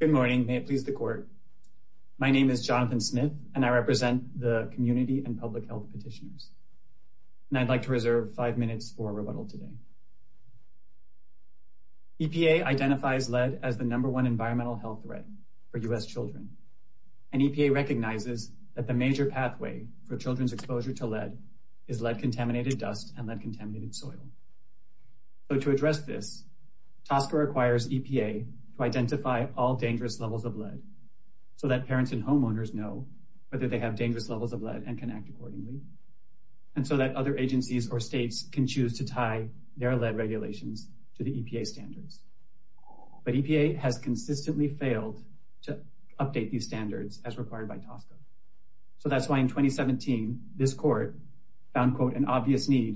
Good morning. May it please the Court. My name is Jonathan Smith, and I represent the Community and Public Health Petitioners. And I'd like to reserve five minutes for rebuttal today. EPA identifies lead as the number one environmental health threat for U.S. children, and EPA recognizes that the major pathway for children's exposure to lead is lead-contaminated EPA to identify all dangerous levels of lead so that parents and homeowners know whether they have dangerous levels of lead and can act accordingly, and so that other agencies or states can choose to tie their lead regulations to the EPA standards. But EPA has consistently failed to update these standards as required by TSCA. So that's why in 2017, this Court found, quote, insufficient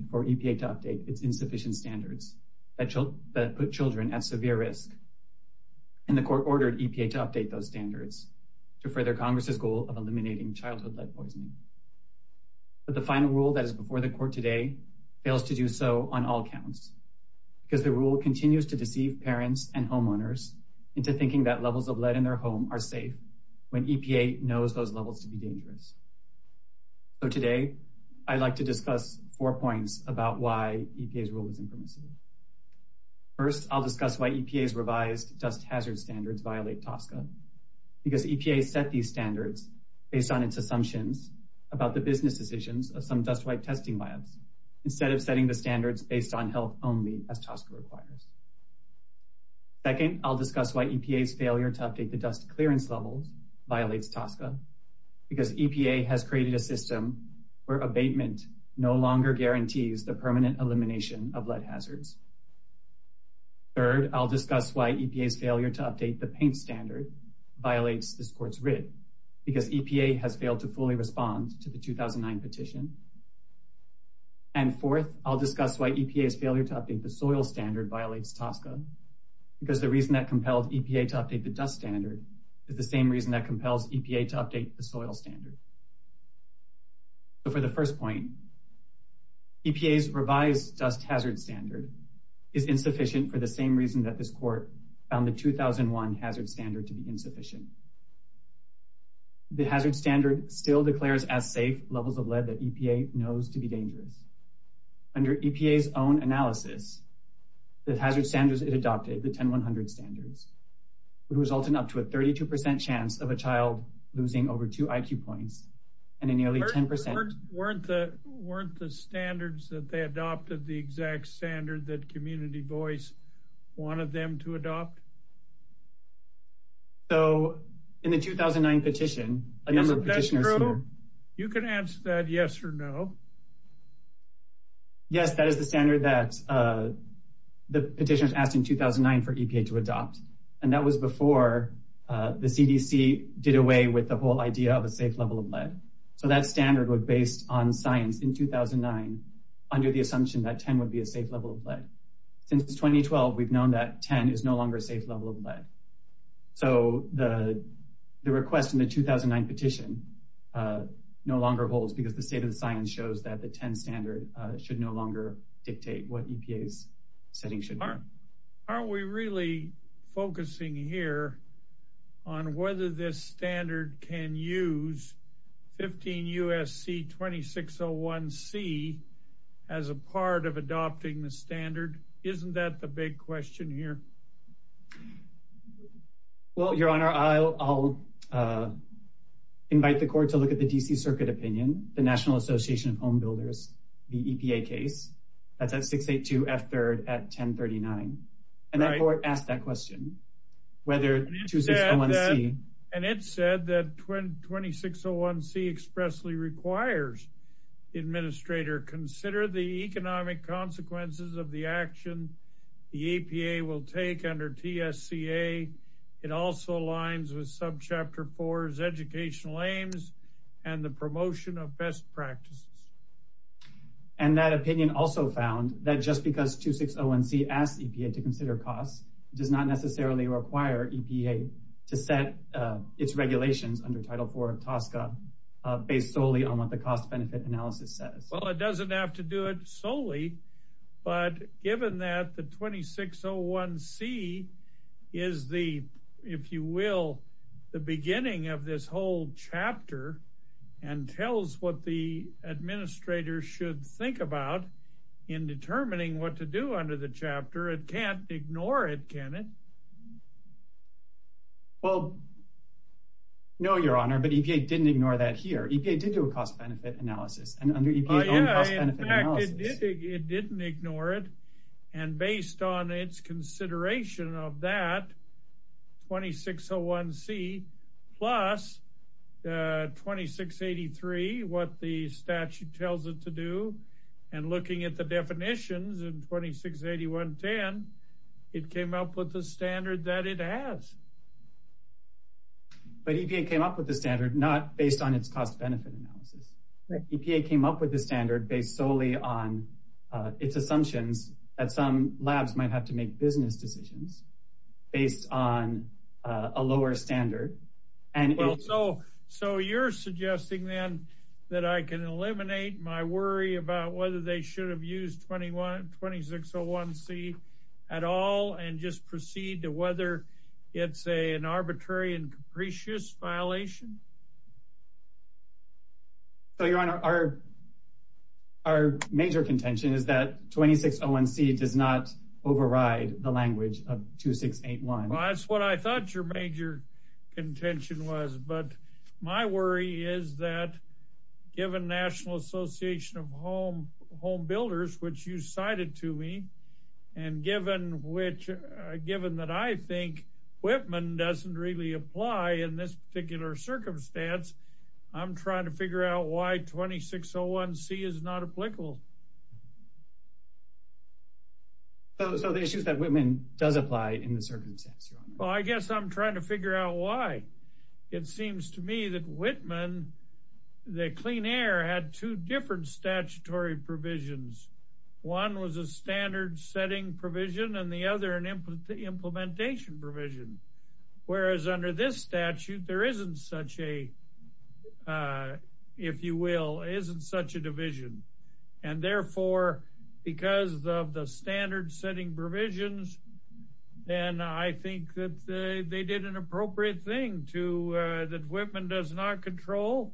standards that put children at severe risk, and the Court ordered EPA to update those standards to further Congress's goal of eliminating childhood lead poisoning. But the final rule that is before the Court today fails to do so on all counts because the rule continues to deceive parents and homeowners into thinking that levels of lead in their home are safe when EPA knows those about why EPA's rule is infamous. First, I'll discuss why EPA's revised dust hazard standards violate TSCA because EPA set these standards based on its assumptions about the business decisions of some dust wipe testing labs instead of setting the standards based on health only as TSCA requires. Second, I'll discuss why EPA's failure to update the dust clearance levels violates TSCA because EPA has created a system where abatement no longer guarantees the permanent elimination of lead hazards. Third, I'll discuss why EPA's failure to update the paint standard violates this Court's writ because EPA has failed to fully respond to the 2009 petition. And fourth, I'll discuss why EPA's failure to update the soil standard violates TSCA because the reason that compelled EPA to update the dust standard is the same reason that compels EPA to update the soil standard. So for the first point, EPA's revised dust hazard standard is insufficient for the same reason that this Court found the 2001 hazard standard to be insufficient. The hazard standard still declares as safe levels of lead that EPA knows to be dangerous. Under EPA's analysis, the hazard standards it adopted, the 10-100 standards, would result in up to a 32% chance of a child losing over two IQ points and a nearly 10%... Weren't the standards that they adopted the exact standard that Community Voice wanted them to adopt? So in the 2009 petition, a number of petitioners... You can answer that yes or no. Yes, that is the standard that the petitioners asked in 2009 for EPA to adopt. And that was before the CDC did away with the whole idea of a safe level of lead. So that standard was based on science in 2009 under the assumption that 10 would be a safe level of lead. Since 2012, we've known that 10 is no longer a safe level of lead. So the request in the 2009 petition no longer holds because the state of the science shows that the 10 standard should no longer dictate what EPA's setting should be. Are we really focusing here on whether this standard can use 15 U.S.C. 2601C as a part of adopting the standard? Isn't that the big question here? Well, Your Honor, I'll invite the court to look at the D.C. Circuit opinion. The National Association of Home Builders, the EPA case, that's at 682 F. 3rd at 1039. And the court asked that question. And it said that 2601C expressly requires the administrator consider the economic consequences of the action the EPA will take under TSCA. It also aligns with Subchapter 4's educational aims and the promotion of best practices. And that opinion also found that just because 2601C asked EPA to consider costs does not necessarily require EPA to set its regulations under Title 4 of TSCA based solely on what the cost-benefit analysis says. Well, it doesn't have to do it solely. But given that the 2601C is the, if you will, the beginning of this whole chapter and tells what the administrator should think about in determining what to do under the chapter, it can't ignore it, can it? Well, no, Your Honor, but EPA didn't ignore that here. EPA did do a cost-benefit analysis. Oh, yeah, in fact, it didn't ignore it. And based on its consideration of that, 2601C plus 2683, what the statute tells it to do, and looking at the definitions in 268110, it came up with the standard that it has. But EPA came up with the standard not based on its cost-benefit analysis. EPA came up with the standard based solely on its assumptions that some labs might have to business decisions based on a lower standard. Well, so you're suggesting then that I can eliminate my worry about whether they should have used 2601C at all and just proceed to whether it's an arbitrary and capricious violation? So, Your Honor, our major contention is that 2601C does not override the language of 2681. Well, that's what I thought your major contention was. But my worry is that given National Association of Home Builders, which you cited to me, and given that I think Whitman doesn't really apply in this particular circumstance, I'm trying to figure out why 2601C is not applicable. So the issue is that Whitman does apply in the circumstance, Your Honor. Well, I guess I'm trying to figure out why. It seems to me that Whitman, the Clean Air, had two different statutory provisions. One was a standard-setting provision, and the other an implementation provision. Whereas under this statute, there isn't such a, if you will, isn't such a division. And therefore, because of the standard-setting provisions, then I think that they did an appropriate thing to that Whitman does not control,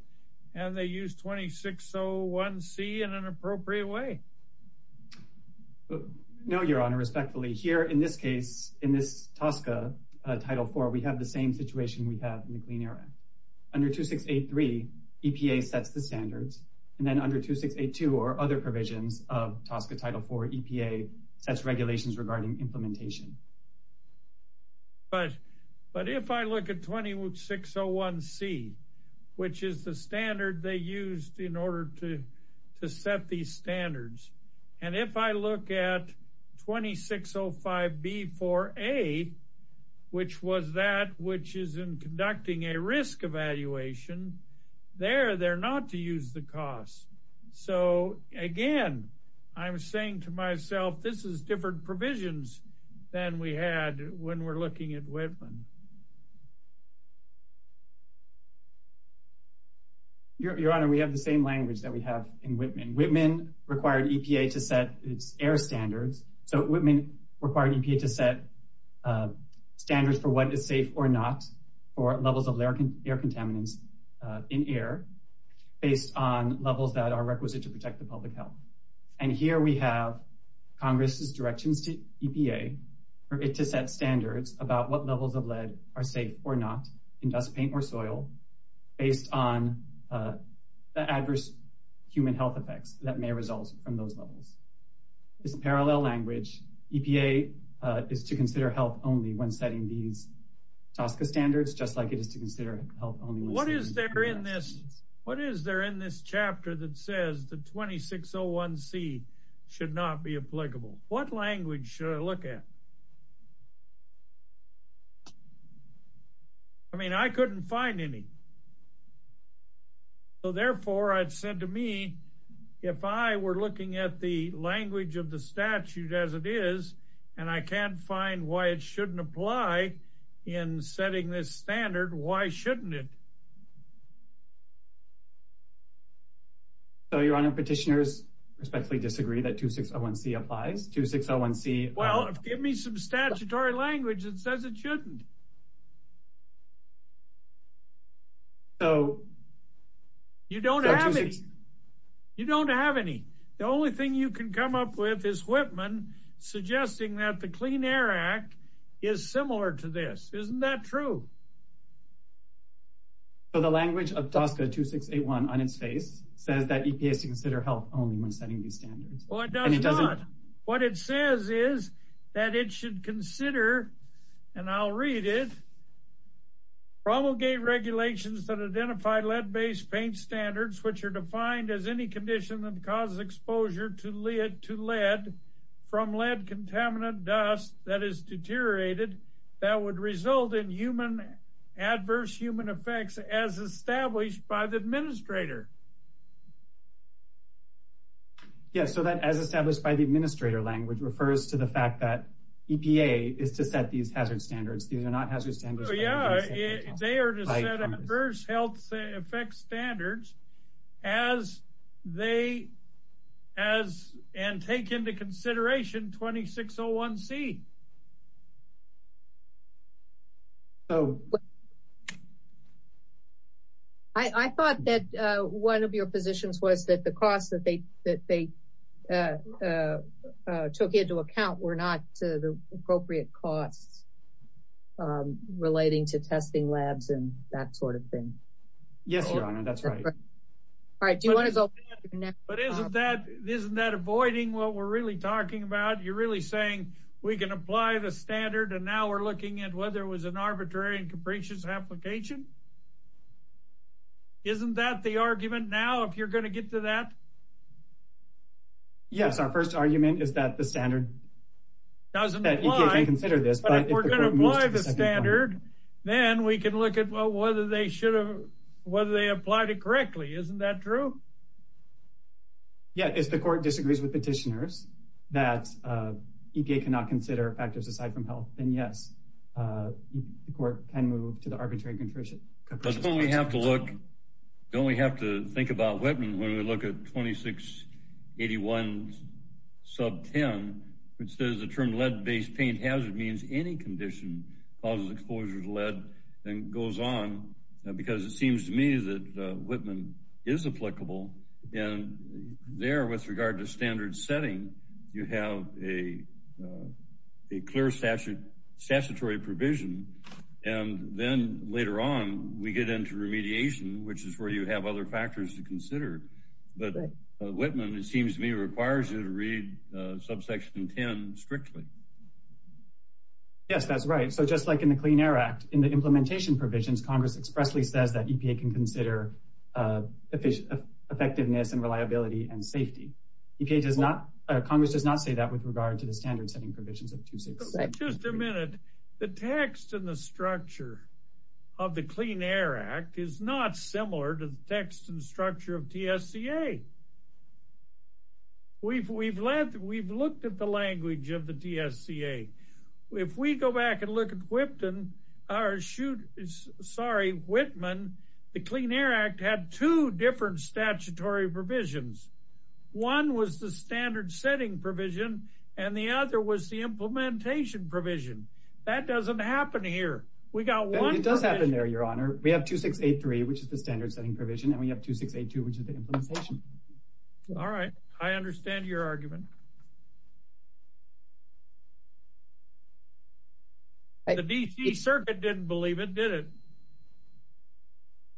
and they used 2601C in an appropriate way. No, Your Honor. Respectfully, here in this case, in this TSCA Title IV, we have the same situation we have in the Clean Air Act. Under 2683, EPA sets the standards, and then under 2682 or other provisions of TSCA Title IV, EPA sets regulations regarding implementation. But if I look at 2601C, which is the standard they used in order to set these standards, and if I look at 2605B4A, which was that which is in conducting a risk evaluation, there they're not to use the costs. So again, I'm saying to myself, this is different provisions than we had when we're looking at Whitman. Your Honor, we have the same language that we have in Whitman. Whitman required EPA to set its air standards. So Whitman required EPA to set standards for what is safe or not for levels of air contaminants in air based on levels that are requisite to protect the public health. And here we have Congress's directions to EPA for it to set standards about what levels of lead are safe or not in dust, paint, or soil based on the adverse human health effects that may result from those levels. It's a parallel language. EPA is to consider health only when setting these TSCA standards, just like it is to consider health only. What is there in this chapter that says the 2601C should not be applicable? What language should I look at? I mean, I couldn't find any. So therefore, I'd said to me, if I were looking at the language of the statute as it is, and I can't find why it shouldn't apply in setting this standard, why shouldn't it? Your Honor, petitioners respectfully disagree that 2601C applies. Well, give me some statutory language that says it shouldn't. You don't have any. The only thing you can come up with is Whitman suggesting that the Clean Air Act is similar to this. Isn't that true? So the language of TSCA 2681 on its face says that EPA is to consider health only when setting these standards. Well, it does not. What it says is that it should consider, and I'll read it, promulgate regulations that identify lead-based paint standards, which are defined as any condition that causes exposure to lead from lead contaminant dust that is deteriorated that would result in adverse human effects as established by the administrator. Yes, so that as established by the administrator language refers to the fact that EPA is to set these hazard standards. These are not hazard standards. Yeah, they are to set adverse health effects standards and take into consideration 2601C. So I thought that one of your positions was that the costs that they took into account were not the appropriate costs relating to testing labs and that sort of thing. Yes, Your Honor, that's right. All right, do you want to go? But isn't that avoiding what we're really talking about? You're really saying we can apply the standard and now we're looking at whether it was an arbitrary and capricious application? Isn't that the argument now, if you're going to get to that? Yes, our first argument is that the standard doesn't apply, but if we're going to apply the standard, then we can look at whether they applied it correctly. Isn't that true? Yeah, if the court disagrees with petitioners that EPA cannot consider factors aside from health, then yes, the court can move to the arbitrary and capricious application. But don't we have to look, don't we have to think about Whitman when we look at 2681 sub 10, which says the term lead-based paint hazard means any condition causes exposure to and there with regard to standard setting, you have a clear statutory provision. And then later on, we get into remediation, which is where you have other factors to consider. But Whitman, it seems to me, requires you to read subsection 10 strictly. Yes, that's right. So just like in the Clean Air Act, in the implementation provisions, Congress expressly says that EPA can consider effectiveness and reliability and safety. Congress does not say that with regard to the standard setting provisions of 2681. Just a minute. The text and the structure of the Clean Air Act is not similar to the text and structure of TSCA. We've looked at the language of the TSCA. If we go back and look at Whitman, the Clean Air Act had two different statutory provisions. One was the standard setting provision, and the other was the implementation provision. That doesn't happen here. It does happen there, Your Honor. We have 2683, which is the standard setting provision, and we have 2682, which is the implementation. All right. I understand your argument. The D.C. Circuit didn't believe it, did it?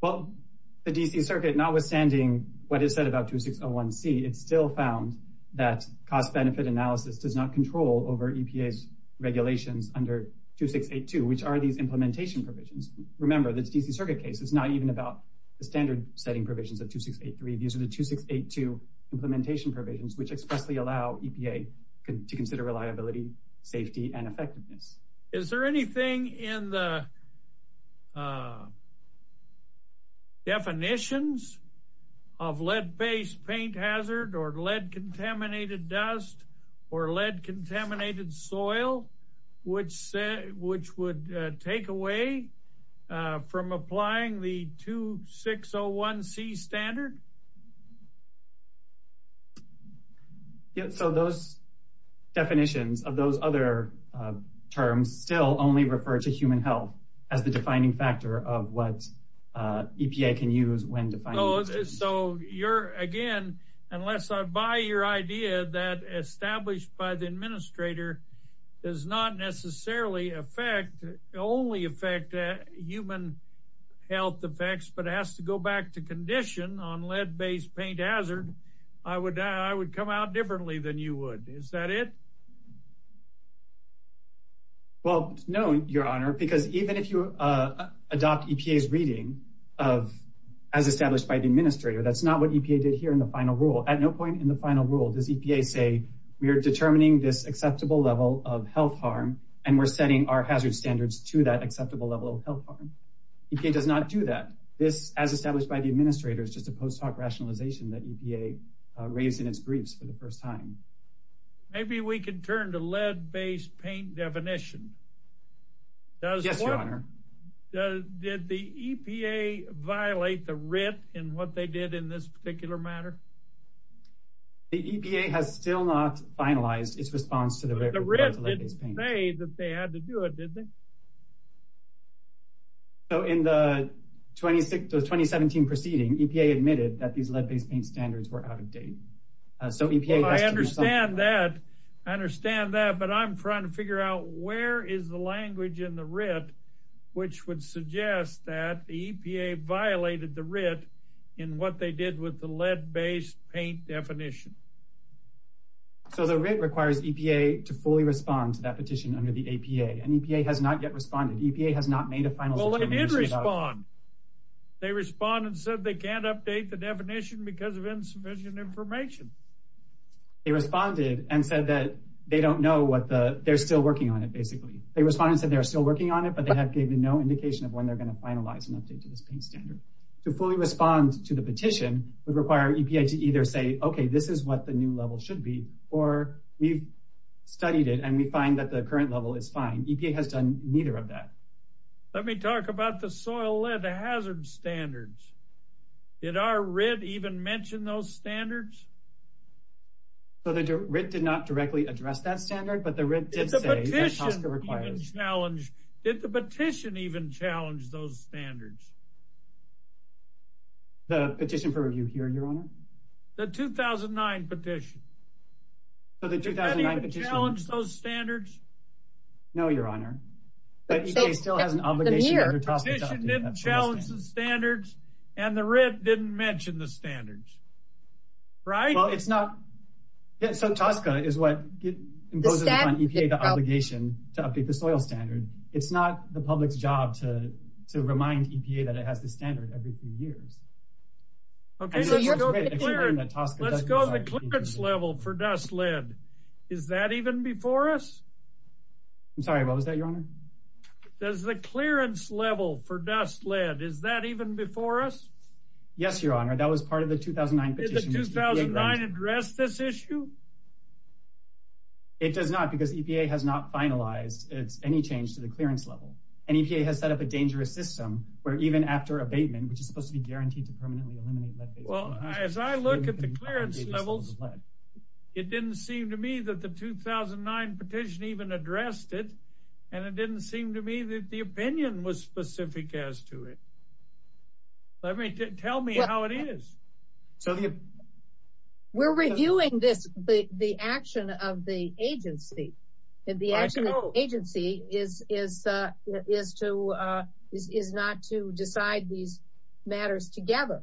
Well, the D.C. Circuit, notwithstanding what is said about 2601C, it still found that cost-benefit analysis does not control over EPA's regulations under 2682, which are these implementation provisions. Remember, the D.C. Circuit case is not even about the standard setting provisions of 2683. These are the 2682 implementation provisions, which expressly allow EPA to consider reliability, safety, and effectiveness. Is there anything in the definitions of lead-based paint hazard or lead-contaminated dust or lead-contaminated soil which would take away from applying the 2601C standard? So those definitions of those other terms still only refer to human health as the defining factor of what EPA can use when defining… So, again, unless I buy your idea that established by the administrator does not necessarily only affect human health effects but has to go back to condition on lead-based paint hazard, I would come out differently than you would. Is that it? Well, no, Your Honor, because even if you adopt EPA's reading as established by the administrator, that's not what EPA did here in the final rule. At no point in the final rule does EPA say, we are determining this acceptable level of health harm, and we're setting our hazard standards to that acceptable level of health harm. EPA does not do that. This, as established by the administrator, is just a post-hoc rationalization that EPA raised in its briefs for the first time. Maybe we can turn to lead-based paint definition. Yes, Your Honor. Did the EPA violate the WRIT in what they did in this particular matter? The EPA has still not finalized its response to the WRIT. The WRIT didn't say that they had to do it, did they? So in the 2017 proceeding, EPA admitted that these lead-based paint standards were out of date. So EPA— I understand that. I understand that, but I'm trying to figure out where is the language in the WRIT which would suggest that the EPA violated the WRIT in what they did with the lead-based paint definition. So the WRIT requires EPA to fully respond to that petition under the APA, and EPA has not yet responded. EPA has not made a final— Well, it did respond. They responded and said they can't update the definition because of insufficient information. They responded and said that they don't know what the—they're still working on it, basically. They responded and said they're still working on it, but they have given no indication of when they're going to finalize an update to this paint standard. To fully respond to the petition would require EPA to either say, okay, this is what the new level should be, or we've studied it and we find that the current level is fine. EPA has done neither of that. Let me talk about the soil lead hazard standards. Did our WRIT even mention those standards? So the WRIT did not directly address that standard, but the WRIT did say— Did the petition even challenge—did the petition even challenge those standards? The petition for review here, Your Honor? The 2009 petition. So the 2009 petition— Did anybody even challenge those standards? No, Your Honor. But EPA still has an obligation under TASCA to update that petition. EPA didn't challenge the standards, and the WRIT didn't mention the standards, right? Well, it's not—so TASCA is what imposes upon EPA the obligation to update the soil standard. It's not the public's job to remind EPA that it has the standard every few years. Okay, let's go to the clearance level for dust lead. Is that even before us? I'm sorry, what was that, Your Honor? Does the clearance level for dust lead—is that even before us? Yes, Your Honor. That was part of the 2009 petition. Did the 2009 address this issue? It does not, because EPA has not finalized any change to the clearance level. And EPA has set up a dangerous system where even after abatement, which is supposed to be guaranteed to permanently eliminate lead-based— Well, as I look at the clearance levels, it didn't seem to me that the 2009 petition even addressed it, and it didn't seem to me that the opinion was specific as to it. Tell me how it is. We're reviewing this—the action of the agency, and the action of the agency is not to decide these matters together.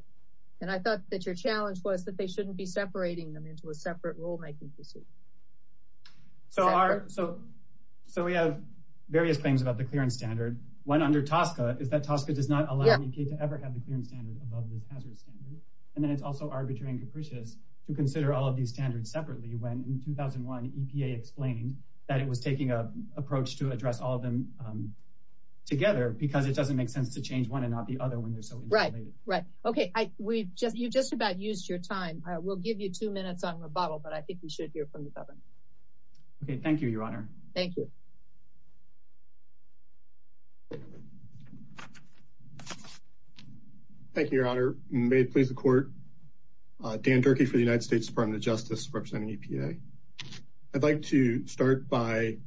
And I thought that your challenge was that they shouldn't be separating them into a separate rulemaking procedure. So we have various claims about the clearance standard. One under TSCA is that TSCA does not allow EPA to ever have the clearance standard above this hazard standard. And then it's also arbitrary and capricious to consider all of these standards separately when in 2001, EPA explained that it was taking an approach to address all of them together because it doesn't make sense to change one and not the other when they're so interrelated. Right. Okay. You've just about used your time. We'll give you two minutes on rebuttal, but I think we should hear from the Governor. Okay. Thank you, Your Honor. Thank you. Thank you, Your Honor. May it please the Court. Dan Durkee for the United States Department of Justice, representing EPA. I'd like to start by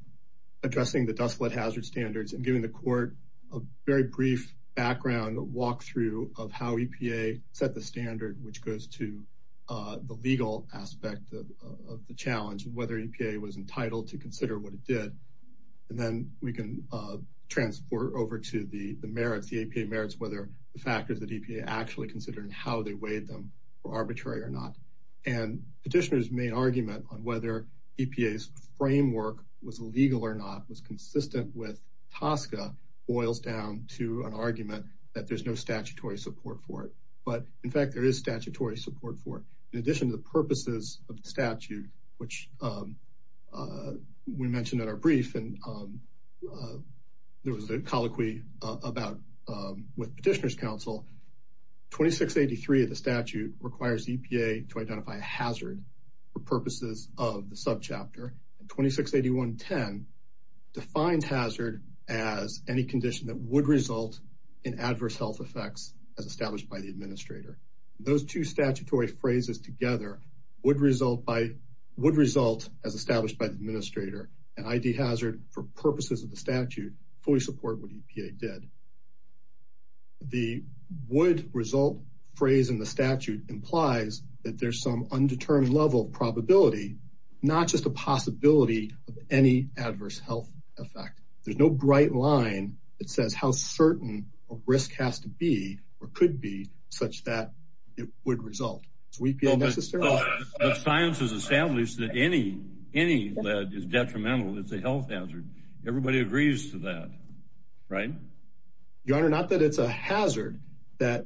addressing the dust flood hazard standards and giving the Court a very brief background walkthrough of how EPA set the standard, which goes to the legal aspect of the challenge and whether EPA was entitled to consider what it did. And then we can transport over to the merits, the EPA merits, whether the factors that EPA actually considered and how they weighed them were arbitrary or not. And Petitioner's main boils down to an argument that there's no statutory support for it. But in fact, there is statutory support for it. In addition to the purposes of the statute, which we mentioned in our brief, and there was a colloquy about with Petitioner's Council, 2683 of the statute requires EPA to identify a hazard for purposes of the subchapter. 2681.10 defined hazard as any condition that would result in adverse health effects as established by the administrator. Those two statutory phrases together would result as established by the administrator. And ID hazard for purposes of the statute fully support what EPA did. The would result phrase in the statute implies that there's some possibility of any adverse health effect. There's no bright line that says how certain a risk has to be, or could be, such that it would result. Is EPA necessary? But science has established that any lead is detrimental. It's a health hazard. Everybody agrees to that, right? Your Honor, not that it's a hazard. That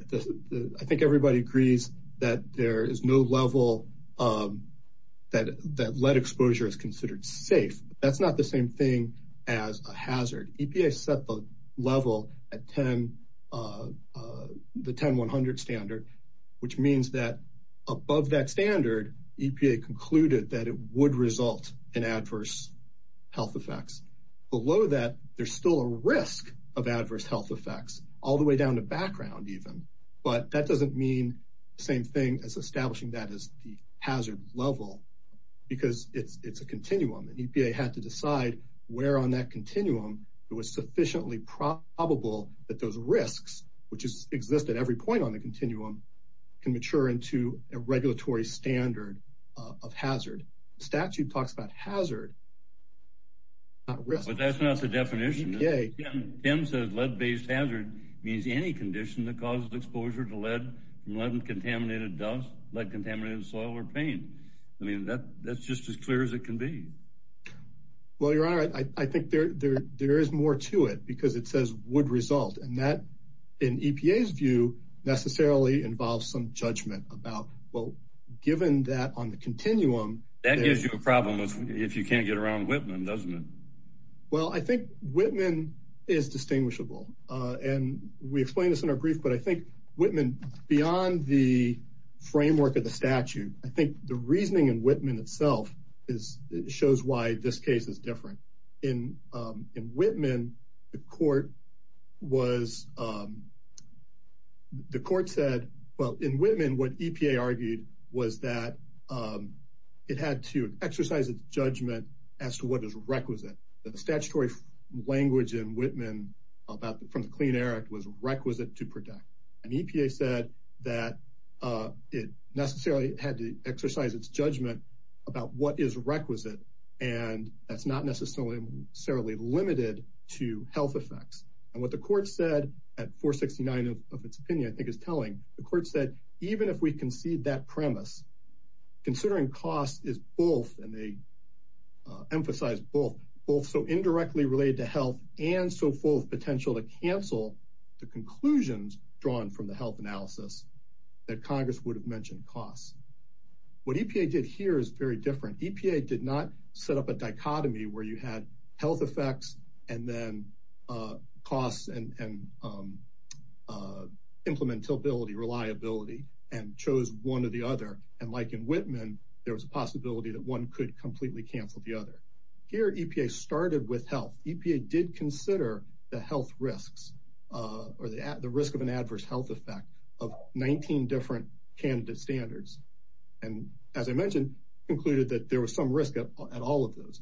I think everybody agrees that there is no level that lead exposure is considered safe. That's not the same thing as a hazard. EPA set the level at the 10100 standard, which means that above that standard, EPA concluded that it would result in adverse health effects. Below that, there's still a risk of adverse health effects, all the way down to background, even. But that doesn't mean the same thing as establishing that as the hazard level, because it's a continuum. And EPA had to decide where on that continuum it was sufficiently probable that those risks, which exist at every point on the continuum, can mature into a regulatory standard of hazard. The statute talks about hazard, not risk. But that's not the definition. Tim says lead-based hazard means any condition that causes exposure to lead from lead-contaminated dust, lead-contaminated soil, or paint. I mean, that's just as clear as it can be. Well, Your Honor, I think there is more to it, because it says would result. And that, in EPA's view, necessarily involves some judgment about, well, given that on the continuum... That gives you a problem if you can't get around Whitman, doesn't it? Well, I think Whitman is distinguishable. And we explained this in our brief, but I think Whitman, beyond the framework of the statute, I think the reasoning in Whitman itself shows why this case is different. In Whitman, the court said, well, in Whitman, what EPA argued was that it had to exercise its judgment as to what is requisite. The statutory language in Whitman from the Clean Air Act was requisite to protect. And EPA said that it necessarily had to exercise its judgment about what is requisite, and that's not necessarily limited to health effects. And what the court said at 469 of its opinion, I think is telling, the court said, even if we concede that premise, considering cost is both, and they emphasize both, both so indirectly related to health and so full of potential to cancel the conclusions drawn from the health analysis, that Congress would have mentioned costs. What EPA did here is very different. EPA did not implementability, reliability, and chose one or the other. And like in Whitman, there was a possibility that one could completely cancel the other. Here, EPA started with health. EPA did consider the health risks or the risk of an adverse health effect of 19 different candidate standards. And as I mentioned, concluded that there was some risk at all of those.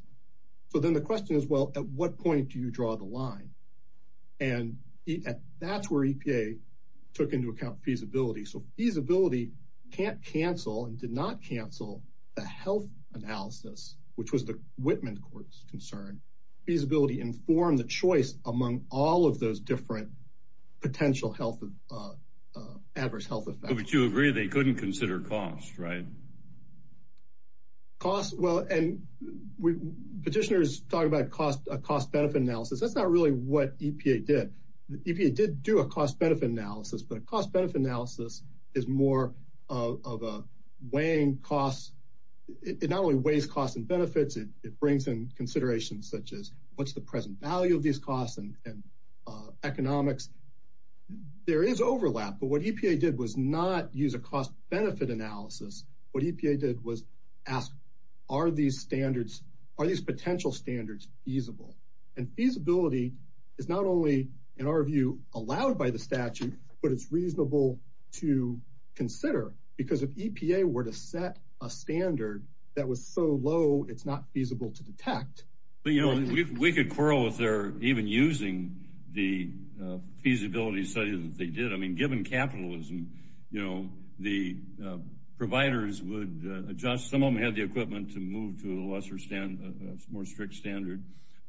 So then the question is, well, at what point do you draw the line? And that's where EPA took into account feasibility. So feasibility can't cancel and did not cancel the health analysis, which was the Whitman court's concern. Feasibility informed the choice among all of those different potential health, adverse health effects. But you agree they couldn't consider cost, right? Cost, well, and petitioners talk about cost, a cost benefit analysis. That's not really what EPA did. The EPA did do a cost benefit analysis, but a cost benefit analysis is more of a weighing costs. It not only weighs costs and benefits, it brings in considerations such as what's the present value of these costs and economics. There is overlap, but what EPA did was not use a cost benefit analysis. What EPA did was ask, are these standards, are these potential standards feasible? And feasibility is not only in our view allowed by the statute, but it's reasonable to consider because if EPA were to set a standard that was so low, it's not feasible to detect. We could quarrel with their even using the feasibility studies that they did. I mean, given capitalism, you know, the providers would adjust. Some of them had the equipment to move to a lesser standard, a more strict standard.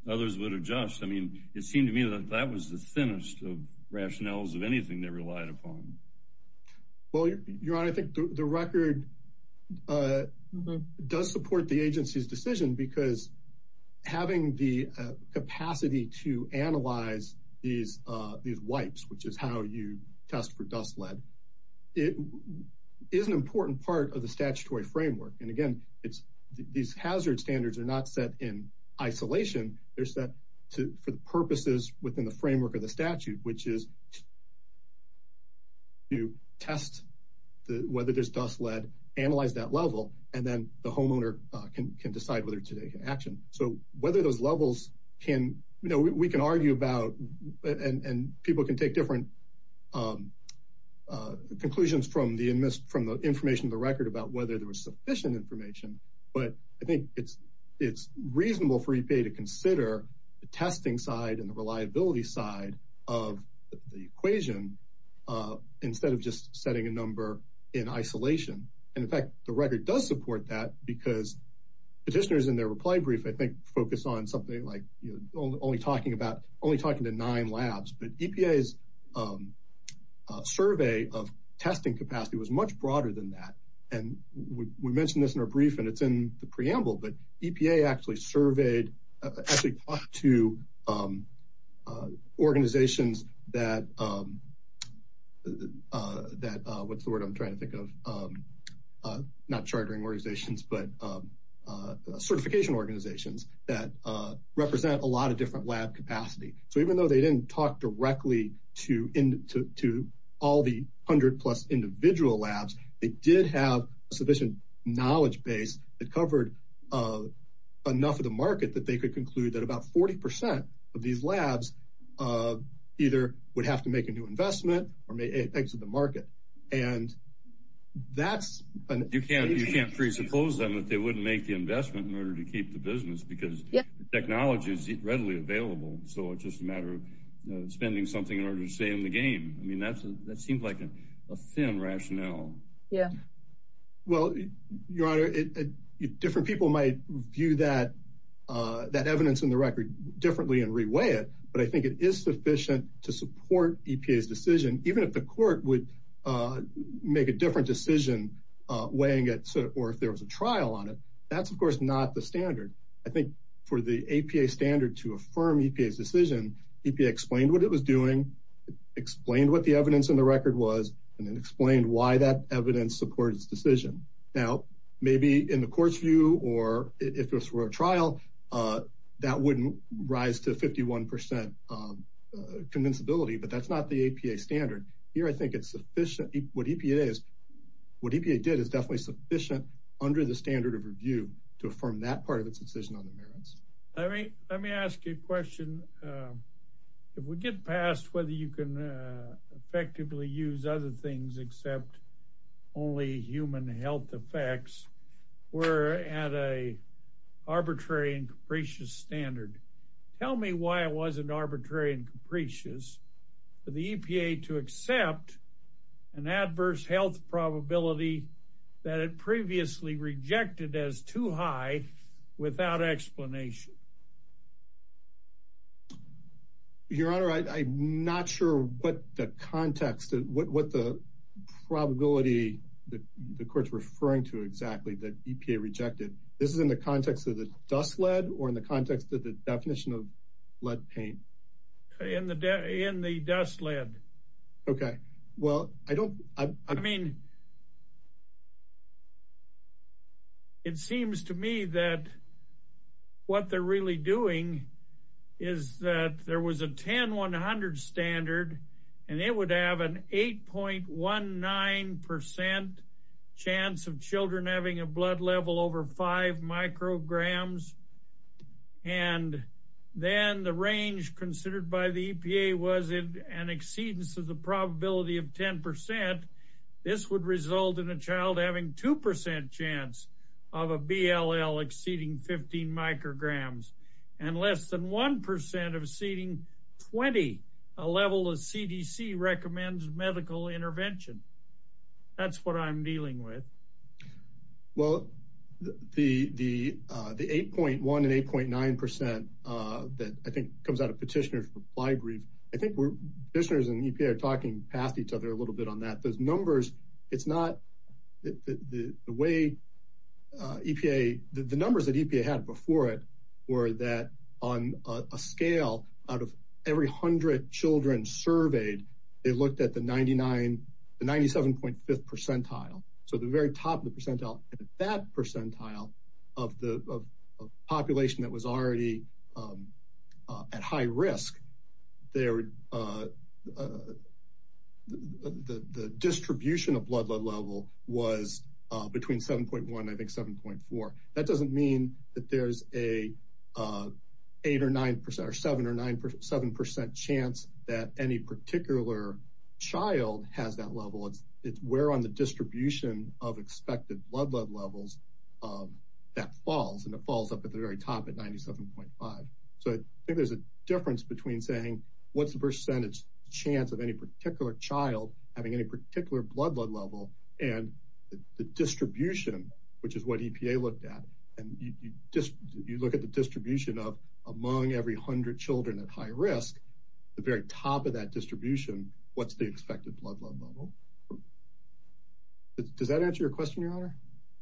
Others would adjust. I mean, it seemed to me that that was the thinnest of rationales of anything they relied upon. Well, your honor, I think the record does support the agency's decision because having the capacity to analyze these wipes, which is how you test for dust lead, it is an important part of the statutory framework. And again, these hazard standards are not set in isolation. They're set for the purposes within the framework of the statute, which is to test whether there's dust lead, analyze that level, and then the homeowner can decide whether to take action. So whether those levels can, you know, and people can take different conclusions from the information of the record about whether there was sufficient information. But I think it's reasonable for EPA to consider the testing side and the reliability side of the equation instead of just setting a number in isolation. And in fact, the record does support that because petitioners in their reply brief, I think, focus on something like, you know, only talking to nine labs, but EPA's survey of testing capacity was much broader than that. And we mentioned this in our brief, and it's in the preamble, but EPA actually talked to organizations that, what's the word I'm trying to think of? Not chartering organizations, but certification organizations that represent a lot of different lab capacity. So even though they didn't talk directly to all the hundred plus individual labs, they did have a sufficient knowledge base that covered enough of the market that they could conclude that about 40% of these labs either would have to make a new investment or exit the market. And that's... Suppose then that they wouldn't make the investment in order to keep the business because the technology is readily available. So it's just a matter of spending something in order to stay in the game. I mean, that seems like a thin rationale. Yeah. Well, your honor, different people might view that evidence in the record differently and reweigh it, but I think it is sufficient to support EPA's decision, even if the court would make a different decision weighing it, or if there was a trial on it, that's of course not the standard. I think for the APA standard to affirm EPA's decision, EPA explained what it was doing, explained what the evidence in the record was, and then explained why that evidence supported its decision. Now, maybe in the court's view, or if this were a trial, that wouldn't rise to 51% convincibility, but that's not the APA standard. Here, I think it's sufficient. What EPA did is definitely sufficient under the standard of review to affirm that part of its decision on the merits. Let me ask you a question. If we get past whether you can effectively use other things except only human health effects, we're at a arbitrary and capricious standard. Tell me why it wasn't arbitrary and capricious for the EPA to accept an adverse health probability that it previously rejected as too high without explanation? Your Honor, I'm not sure what the context, what the probability that the court's referring to exactly that EPA rejected. This is in the context of the dust lead, or in the context of the definition of lead paint? In the dust lead. Okay. Well, I don't... I mean, it seems to me that what they're really doing is that there was a 10-100 standard, and it would have an 8.19% chance of children having a blood level over five micrograms. And then the range considered by the EPA was an exceedance of the probability of 10%. This would result in a child having 2% chance of a BLL exceeding 15 micrograms, and less than 1% of exceeding 20, a level of CDC recommends medical intervention. That's what I'm dealing with. Well, the 8.1 and 8.9% that I think comes out of petitioner's reply brief, I think petitioners and EPA are talking past each other a little bit on that. Those numbers, it's not the way EPA... The numbers that EPA had before it were that on a scale out of every 100 children surveyed, they looked at the 97.5th percentile. So the very top of the percentile, that percentile of the population that was already at high risk, the distribution of blood level was between 7.1 and I think 7.4. That doesn't mean that there's a 8% or 9% or 7% chance that any particular child has that level. It's where on the distribution of expected blood levels that falls and it falls up at the very top at 97.5. So I think there's a difference between saying, what's the percentage chance of any particular child having any particular blood level and the distribution, which is what EPA looked at. And you look at the distribution of among every 100 children at high risk, the very top of that distribution, what's the expected blood level. Does that answer your question, Your Honor?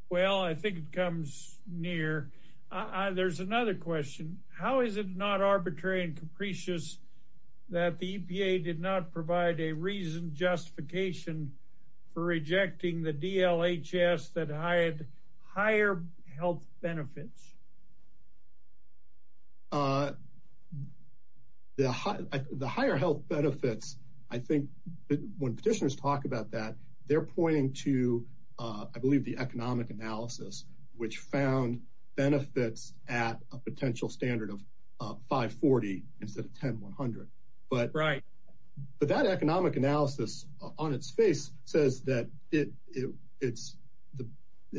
Well, I think it comes near. There's another question. How is it not arbitrary and capricious that the EPA did not provide a reasoned justification for rejecting the DLHS that had higher health benefits? The higher health benefits, I think, when petitioners talk about that, they're pointing to, I believe, the economic analysis, which found benefits at a potential standard of 540 instead of 10, 100. But that economic analysis on its face says that it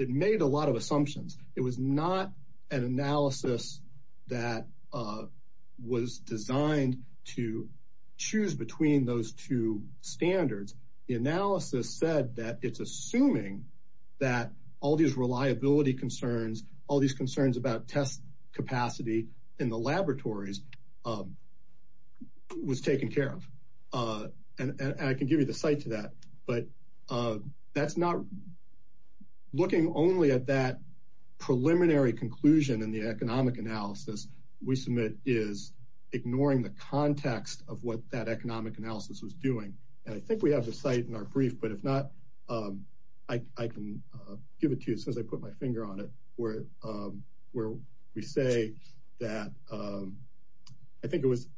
made a lot of assumptions. It was not an analysis that was designed to choose between those two standards. The analysis said that it's assuming that all these reliability concerns, all these concerns about test capacity in the laboratories was taken care of. And I can give you the site to that. But that's not looking only at that preliminary conclusion in the economic analysis we submit is ignoring the context of what that economic analysis was doing. And I think we have the site in our brief, but if not, I can give it to you since I put my finger on it, where we say that I think it was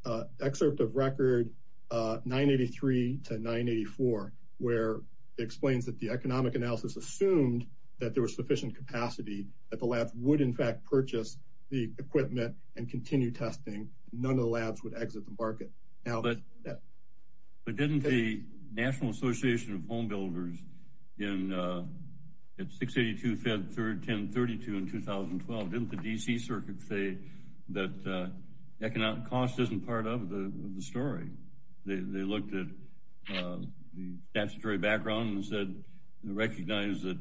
excerpt of record 983 to 984, where it explains that the economic analysis assumed that there was sufficient capacity that the labs would in fact purchase the equipment and continue testing. None of the labs would exit the market. But didn't the National Association of Home Builders in 682 fed 1032 in 2012, didn't the DC circuit say that economic cost isn't part of the story? They looked at the statutory background and said, recognize that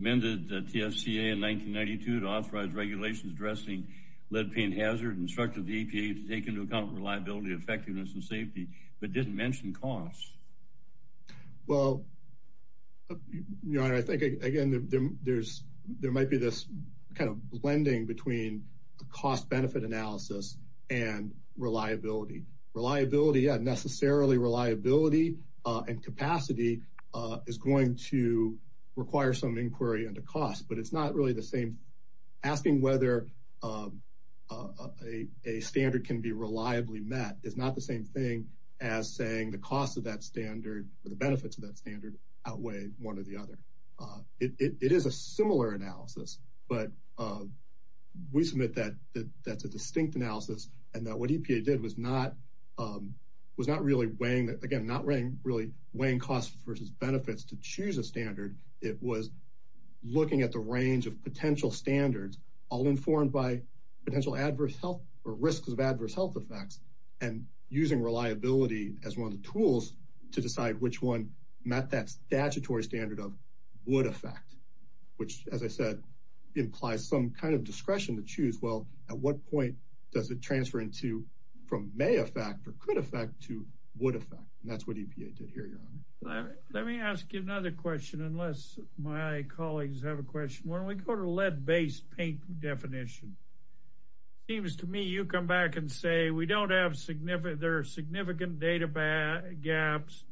amended TFCA in 1992 to authorize regulations addressing lead paint hazard and instructed the EPA to take into account reliability, effectiveness, and safety, but didn't mention costs. Well, your honor, I think again, there might be this kind of blending between cost benefit analysis and reliability. Reliability, yeah, necessarily reliability and capacity is going to require some inquiry into cost, but it's not really the same. Asking whether a standard can be reliably met is not the same thing as saying the cost of that standard or the benefits of that standard outweigh one or the other. It is a similar analysis, but we submit that that's a distinct analysis and that what EPA did was not really weighing, again, not really weighing costs versus benefits to choose a standard. It was looking at the range of potential standards all informed by potential adverse health or risks of adverse health effects and using reliability as one of the tools to decide which one met that implies some kind of discretion to choose. Well, at what point does it transfer into from may affect or could affect to would affect? And that's what EPA did here, your honor. Let me ask you another question, unless my colleagues have a question. When we go to lead based paint definition, it seems to me you come back and say we don't have significant, there are significant data gaps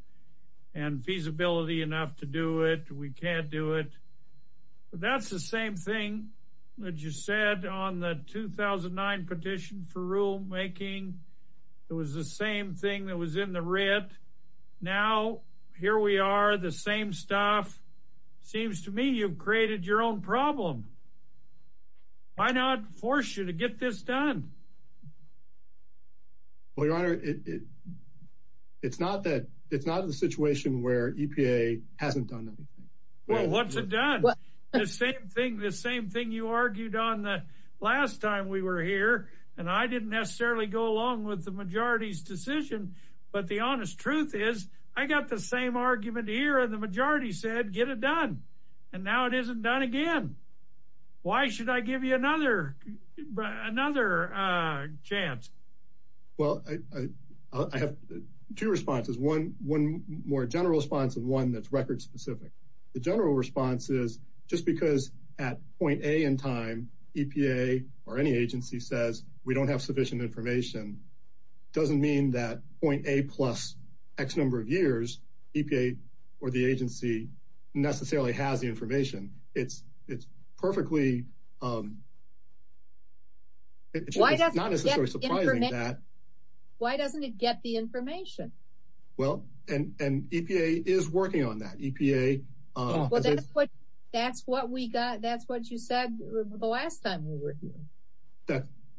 and feasibility enough to do it. We can't do it. That's the same thing that you said on the 2009 petition for rulemaking. It was the same thing that was in the red. Now, here we are the same stuff. Seems to me you've created your own problem. Why not force you to get this done? Well, your honor, it's not that it's not a situation where EPA hasn't done anything. Well, what's it done? The same thing you argued on the last time we were here, and I didn't necessarily go along with the majority's decision, but the honest truth is I got the same argument here and the majority said, get it done. And now it isn't done again. Why should I give you another chance? Well, I have two responses. One more general response and one that's record specific. The general response is just because at point A in time, EPA or any agency says we don't have sufficient information, doesn't mean that point A plus X number of years, EPA or the agency necessarily has the information. It's perfectly. Why doesn't it get the information? Well, and EPA is working on that. That's what we got. That's what you said the last time we were here.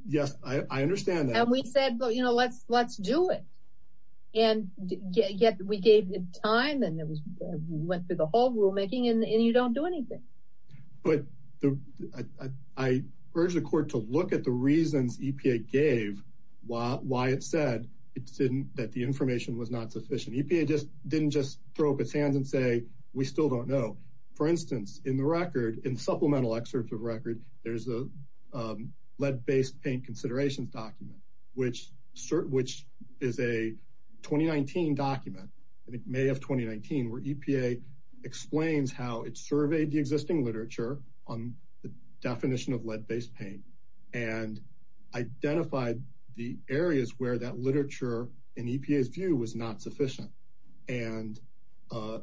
Yes, I understand that. And we said, let's do it. And yet we gave it time and it was went through the whole rulemaking and you don't do anything. But I urge the court to look at the reasons EPA gave why it said it didn't, that the information was not sufficient. EPA just didn't just throw up its hands and say, we still don't know. For instance, in the record, in supplemental excerpts of record, there's a lead based paint considerations document, which is a 2019 document and it may have 2019 where EPA explains how it surveyed existing literature on the definition of lead-based paint and identified the areas where that literature in EPA's view was not sufficient and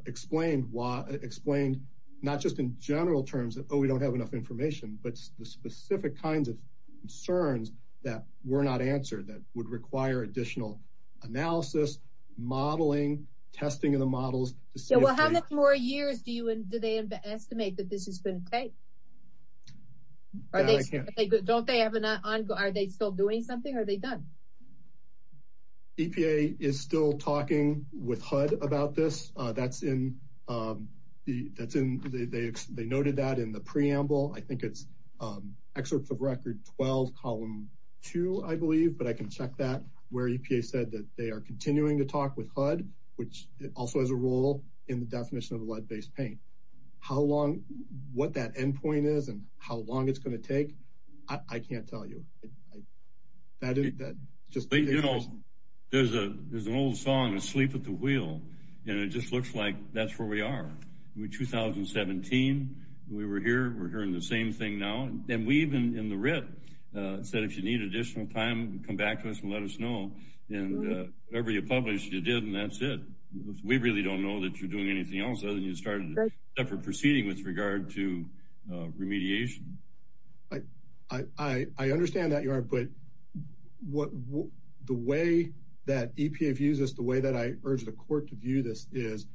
explained why, explained not just in general terms that, oh, we don't have enough information, but the specific kinds of concerns that were not answered that would require additional analysis, modeling, testing of the models. Well, how much more years do they estimate that this is going to take? Don't they have an ongoing, are they still doing something? Are they done? EPA is still talking with HUD about this. They noted that in the preamble. I think it's excerpts of record 12, column two, I believe, but I can check that where EPA said that they are continuing to talk with HUD, which also has a role in the definition of lead-based paint. How long, what that end point is and how long it's going to take, I can't tell you. There's an old song, Sleep at the Wheel, and it just looks like that's where we are. 2017, we were here, we're hearing the same thing now. And we even in the RIT said, if you need additional time, come back to us and let us know. And whatever you published, you did, and that's it. We really don't know that you're doing anything else, other than you started a separate proceeding with regard to remediation. I understand that, but the way that EPA views this, the way that I urge the court to view this is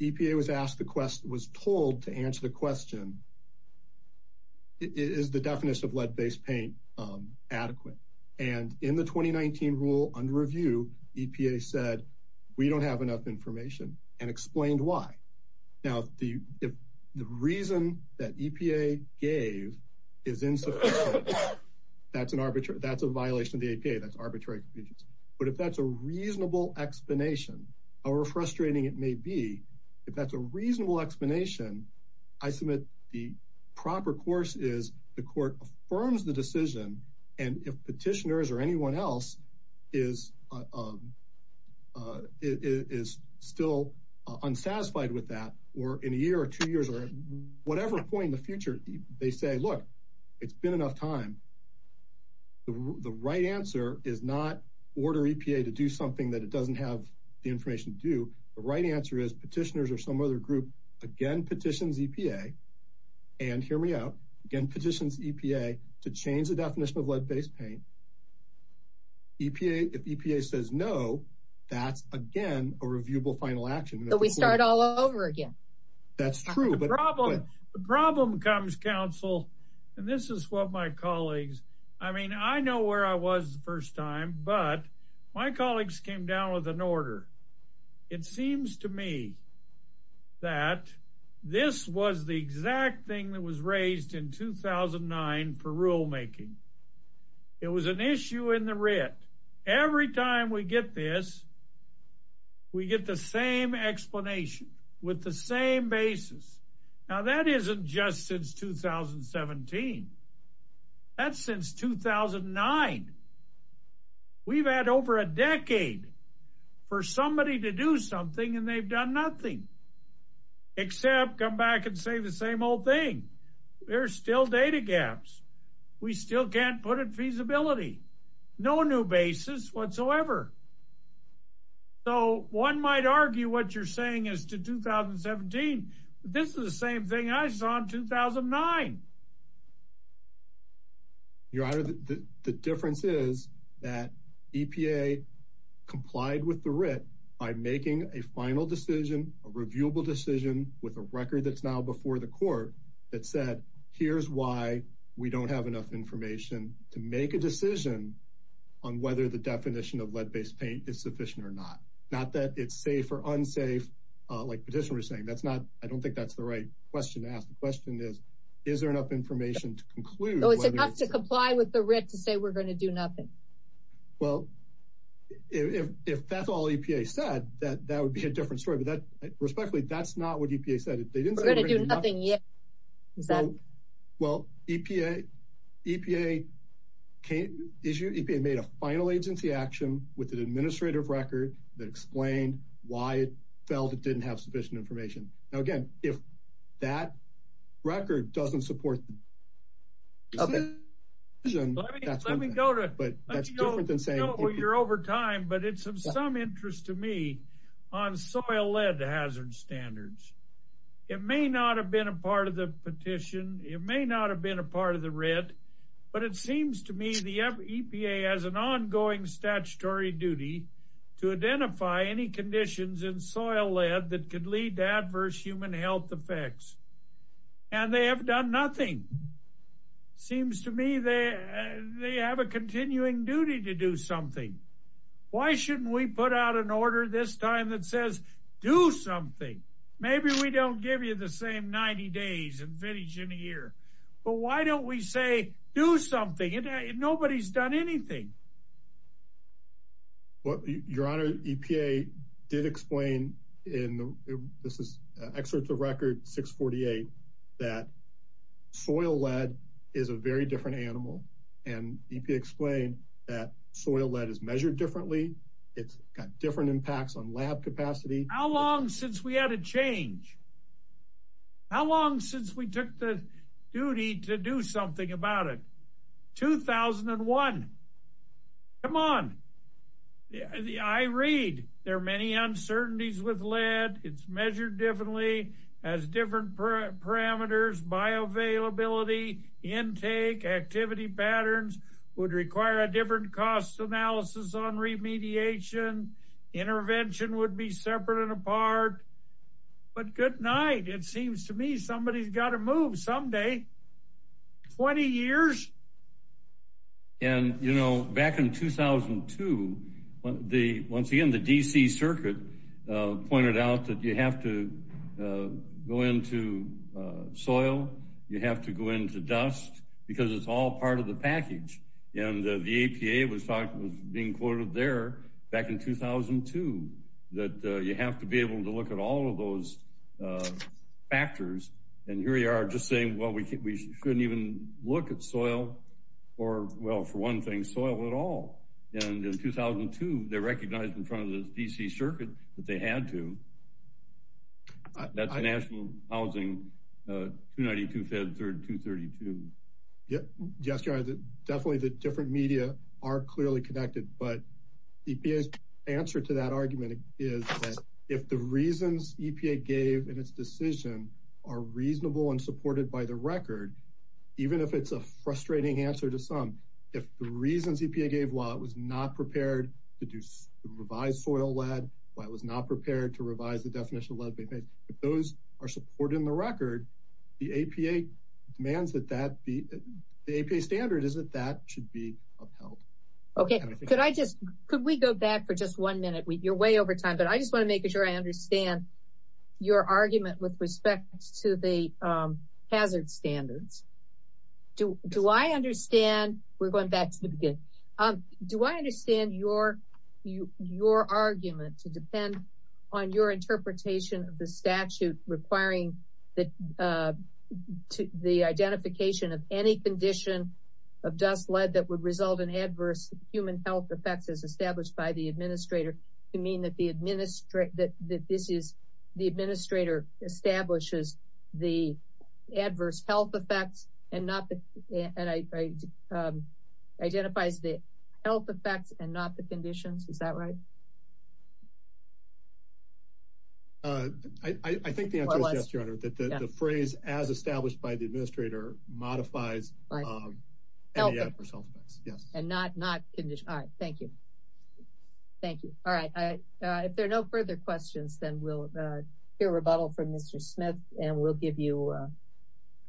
EPA was asked the question, was told to answer the question, is the definition of lead-based paint adequate? And in the 2019 rule under review, EPA said, we don't have enough information and explained why. Now, if the reason that EPA gave is insufficient, that's a violation of the EPA, that's arbitrary confusion. But if that's a reasonable explanation, or frustrating it may be, if that's a reasonable explanation, I submit the proper course is the court affirms the decision. And if petitioners or anyone else is still unsatisfied with that, or in a year or two years, or whatever point in the future, they say, look, it's been enough time. The right answer is not order EPA to do something that it doesn't have the information to do. The right answer is petitioners or some other group, again, petitions EPA, and hear me out, again, petitions EPA to change the definition of lead-based paint. If EPA says no, that's again, a reviewable final action. We start all over again. That's true. But the problem comes, counsel, and this is what my colleagues, I mean, I know where I was the first time, but my colleagues came down with an order. It seems to me that this was the exact thing that was raised in 2009 for rulemaking. It was an issue in the writ. Every time we get this, we get the same explanation with the same basis. Now that isn't just since 2017. That's since 2009. We've had over a decade for somebody to do something and they've done nothing, except come back and say the same old thing. There's still data gaps. We still can't put in feasibility, no new basis whatsoever. So one might argue what you're saying as to 2017, but this is the same thing I saw in 2009. Your honor, the difference is that EPA complied with the writ by making a final decision, a reviewable decision with a record that's now before the court that said, here's why we don't have enough information to make a decision on whether the definition of lead-based paint is sufficient or not. Not that it's safe or unsafe, like Petitioner was saying. I don't think that's the right question to ask. The question is, is there enough information to conclude? It's enough to comply with the writ to say we're going to do nothing. Well, if that's all EPA said, that would be a different story. But respectfully, that's not what EPA said. We're going to do nothing yet. Well, EPA made a final agency action with an administrative record that explained why it felt it didn't have sufficient information. Now, again, if that record doesn't support the decision, that's one thing, but that's different than saying you're over time. But it's of some interest to me on soil lead hazard standards. It may not have been a part of the petition. It may not have been a part of the writ. But it seems to me the EPA has an ongoing statutory duty to identify any conditions in soil lead that could lead to adverse human health effects. And they have done nothing. Seems to me they have a continuing duty to do something. Why shouldn't we put out an order this time that says do something? Maybe we don't give you the same 90 days and finish in a year. But why don't we say do something? Nobody's done anything. Well, your honor, EPA did explain in this is excerpts of record 648 that soil lead is a very different substance. It's measured differently. It's got different impacts on lab capacity. How long since we had a change? How long since we took the duty to do something about it? 2001. Come on. I read there are many uncertainties with lead. It's measured differently, has different parameters, bioavailability, intake, activity patterns, would require a different cost analysis on remediation. Intervention would be separate and apart. But good night. It seems to me somebody's got to move someday. 20 years? And, you know, back in 2002, once again, the DC circuit pointed out that you have to go into soil. You have to go into dust because it's all part of the package. And the EPA was being quoted there back in 2002 that you have to be able to look at all of those factors. And here we are just saying, well, we shouldn't even look at soil or, well, for one thing, soil at all. And in 2002, they recognized in front of the DC circuit that they definitely the different media are clearly connected. But EPA's answer to that argument is that if the reasons EPA gave in its decision are reasonable and supported by the record, even if it's a frustrating answer to some, if the reasons EPA gave while it was not prepared to revise soil lead, while it was not prepared to revise the definition of lead, if those are supported in the record, the APA demands that that be, the APA standard is that that should be upheld. Okay. Could I just, could we go back for just one minute? You're way over time, but I just want to make sure I understand your argument with respect to the hazard standards. Do I understand, we're going back to the beginning. Do I understand your argument to depend on your interpretation of the statute requiring that the identification of any condition of dust lead that would result in adverse human health effects as established by the administrator to mean that the administrator, that this is the administrator establishes the adverse health effects and identifies the health effects and not the conditions. Is that right? I think the answer is yes, your honor, that the phrase as established by the administrator modifies any adverse health effects. Yes. And not, not condition. All right. Thank you. Thank you. All right. If there are no further questions, then we'll hear rebuttal from Mr. Smith and we'll give you,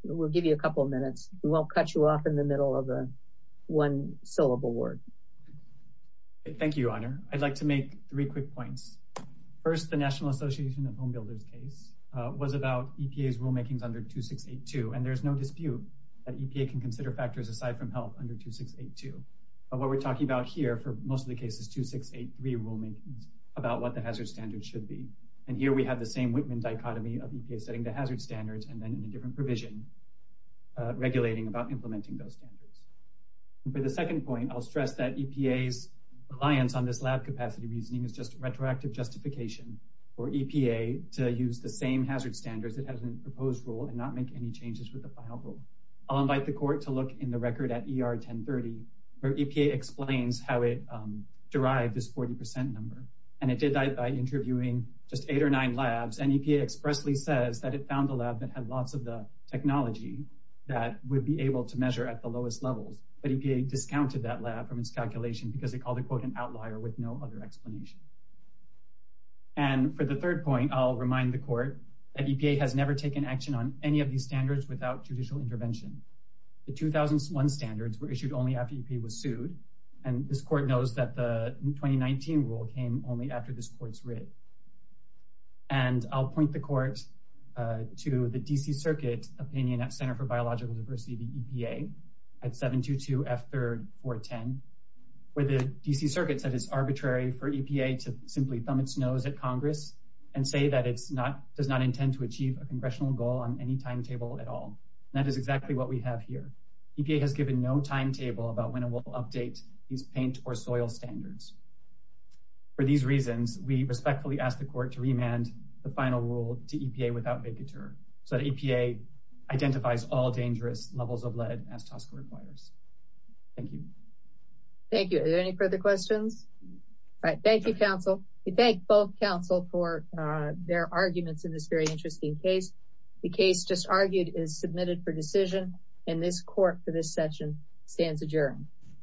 we'll give you a couple of minutes. We won't cut you off in the middle of one syllable word. Thank you, your honor. I'd like to make three quick points. First, the national association of homebuilders case was about EPA's rulemakings under 2682. And there's no dispute that EPA can consider factors aside from health under 2682. But what we're talking about here for most of the cases, 2683 rulemakings about what the hazard standards should be. And here we have the same Whitman dichotomy of EPA setting the hazard standards and then in a implementing those standards. And for the second point, I'll stress that EPA's reliance on this lab capacity reasoning is just retroactive justification for EPA to use the same hazard standards that have been proposed rule and not make any changes with the final rule. I'll invite the court to look in the record at ER 1030, where EPA explains how it derived this 40% number. And it did that by interviewing just eight or nine labs. And EPA expressly says that it to measure at the lowest levels, but EPA discounted that lab from its calculation because they call the quote an outlier with no other explanation. And for the third point, I'll remind the court that EPA has never taken action on any of these standards without judicial intervention. The 2001 standards were issued only after he was sued. And this court knows that the 2019 rule came only after this court's writ. And I'll point the court to the DC circuit opinion at Center for Biological Diversity, the EPA at 722F3R10, where the DC circuit said it's arbitrary for EPA to simply thumb its nose at Congress and say that it does not intend to achieve a congressional goal on any timetable at all. That is exactly what we have here. EPA has given no timetable about when it will update these paint or soil standards. For these reasons, we respectfully ask the court to remand the final rule to EPA without vacatur so that EPA identifies all dangerous levels of lead as TSCA requires. Thank you. Thank you. Are there any further questions? All right. Thank you, counsel. We thank both counsel for their arguments in this very interesting case. The case just argued is submitted for decision and this court for this session stands adjourned.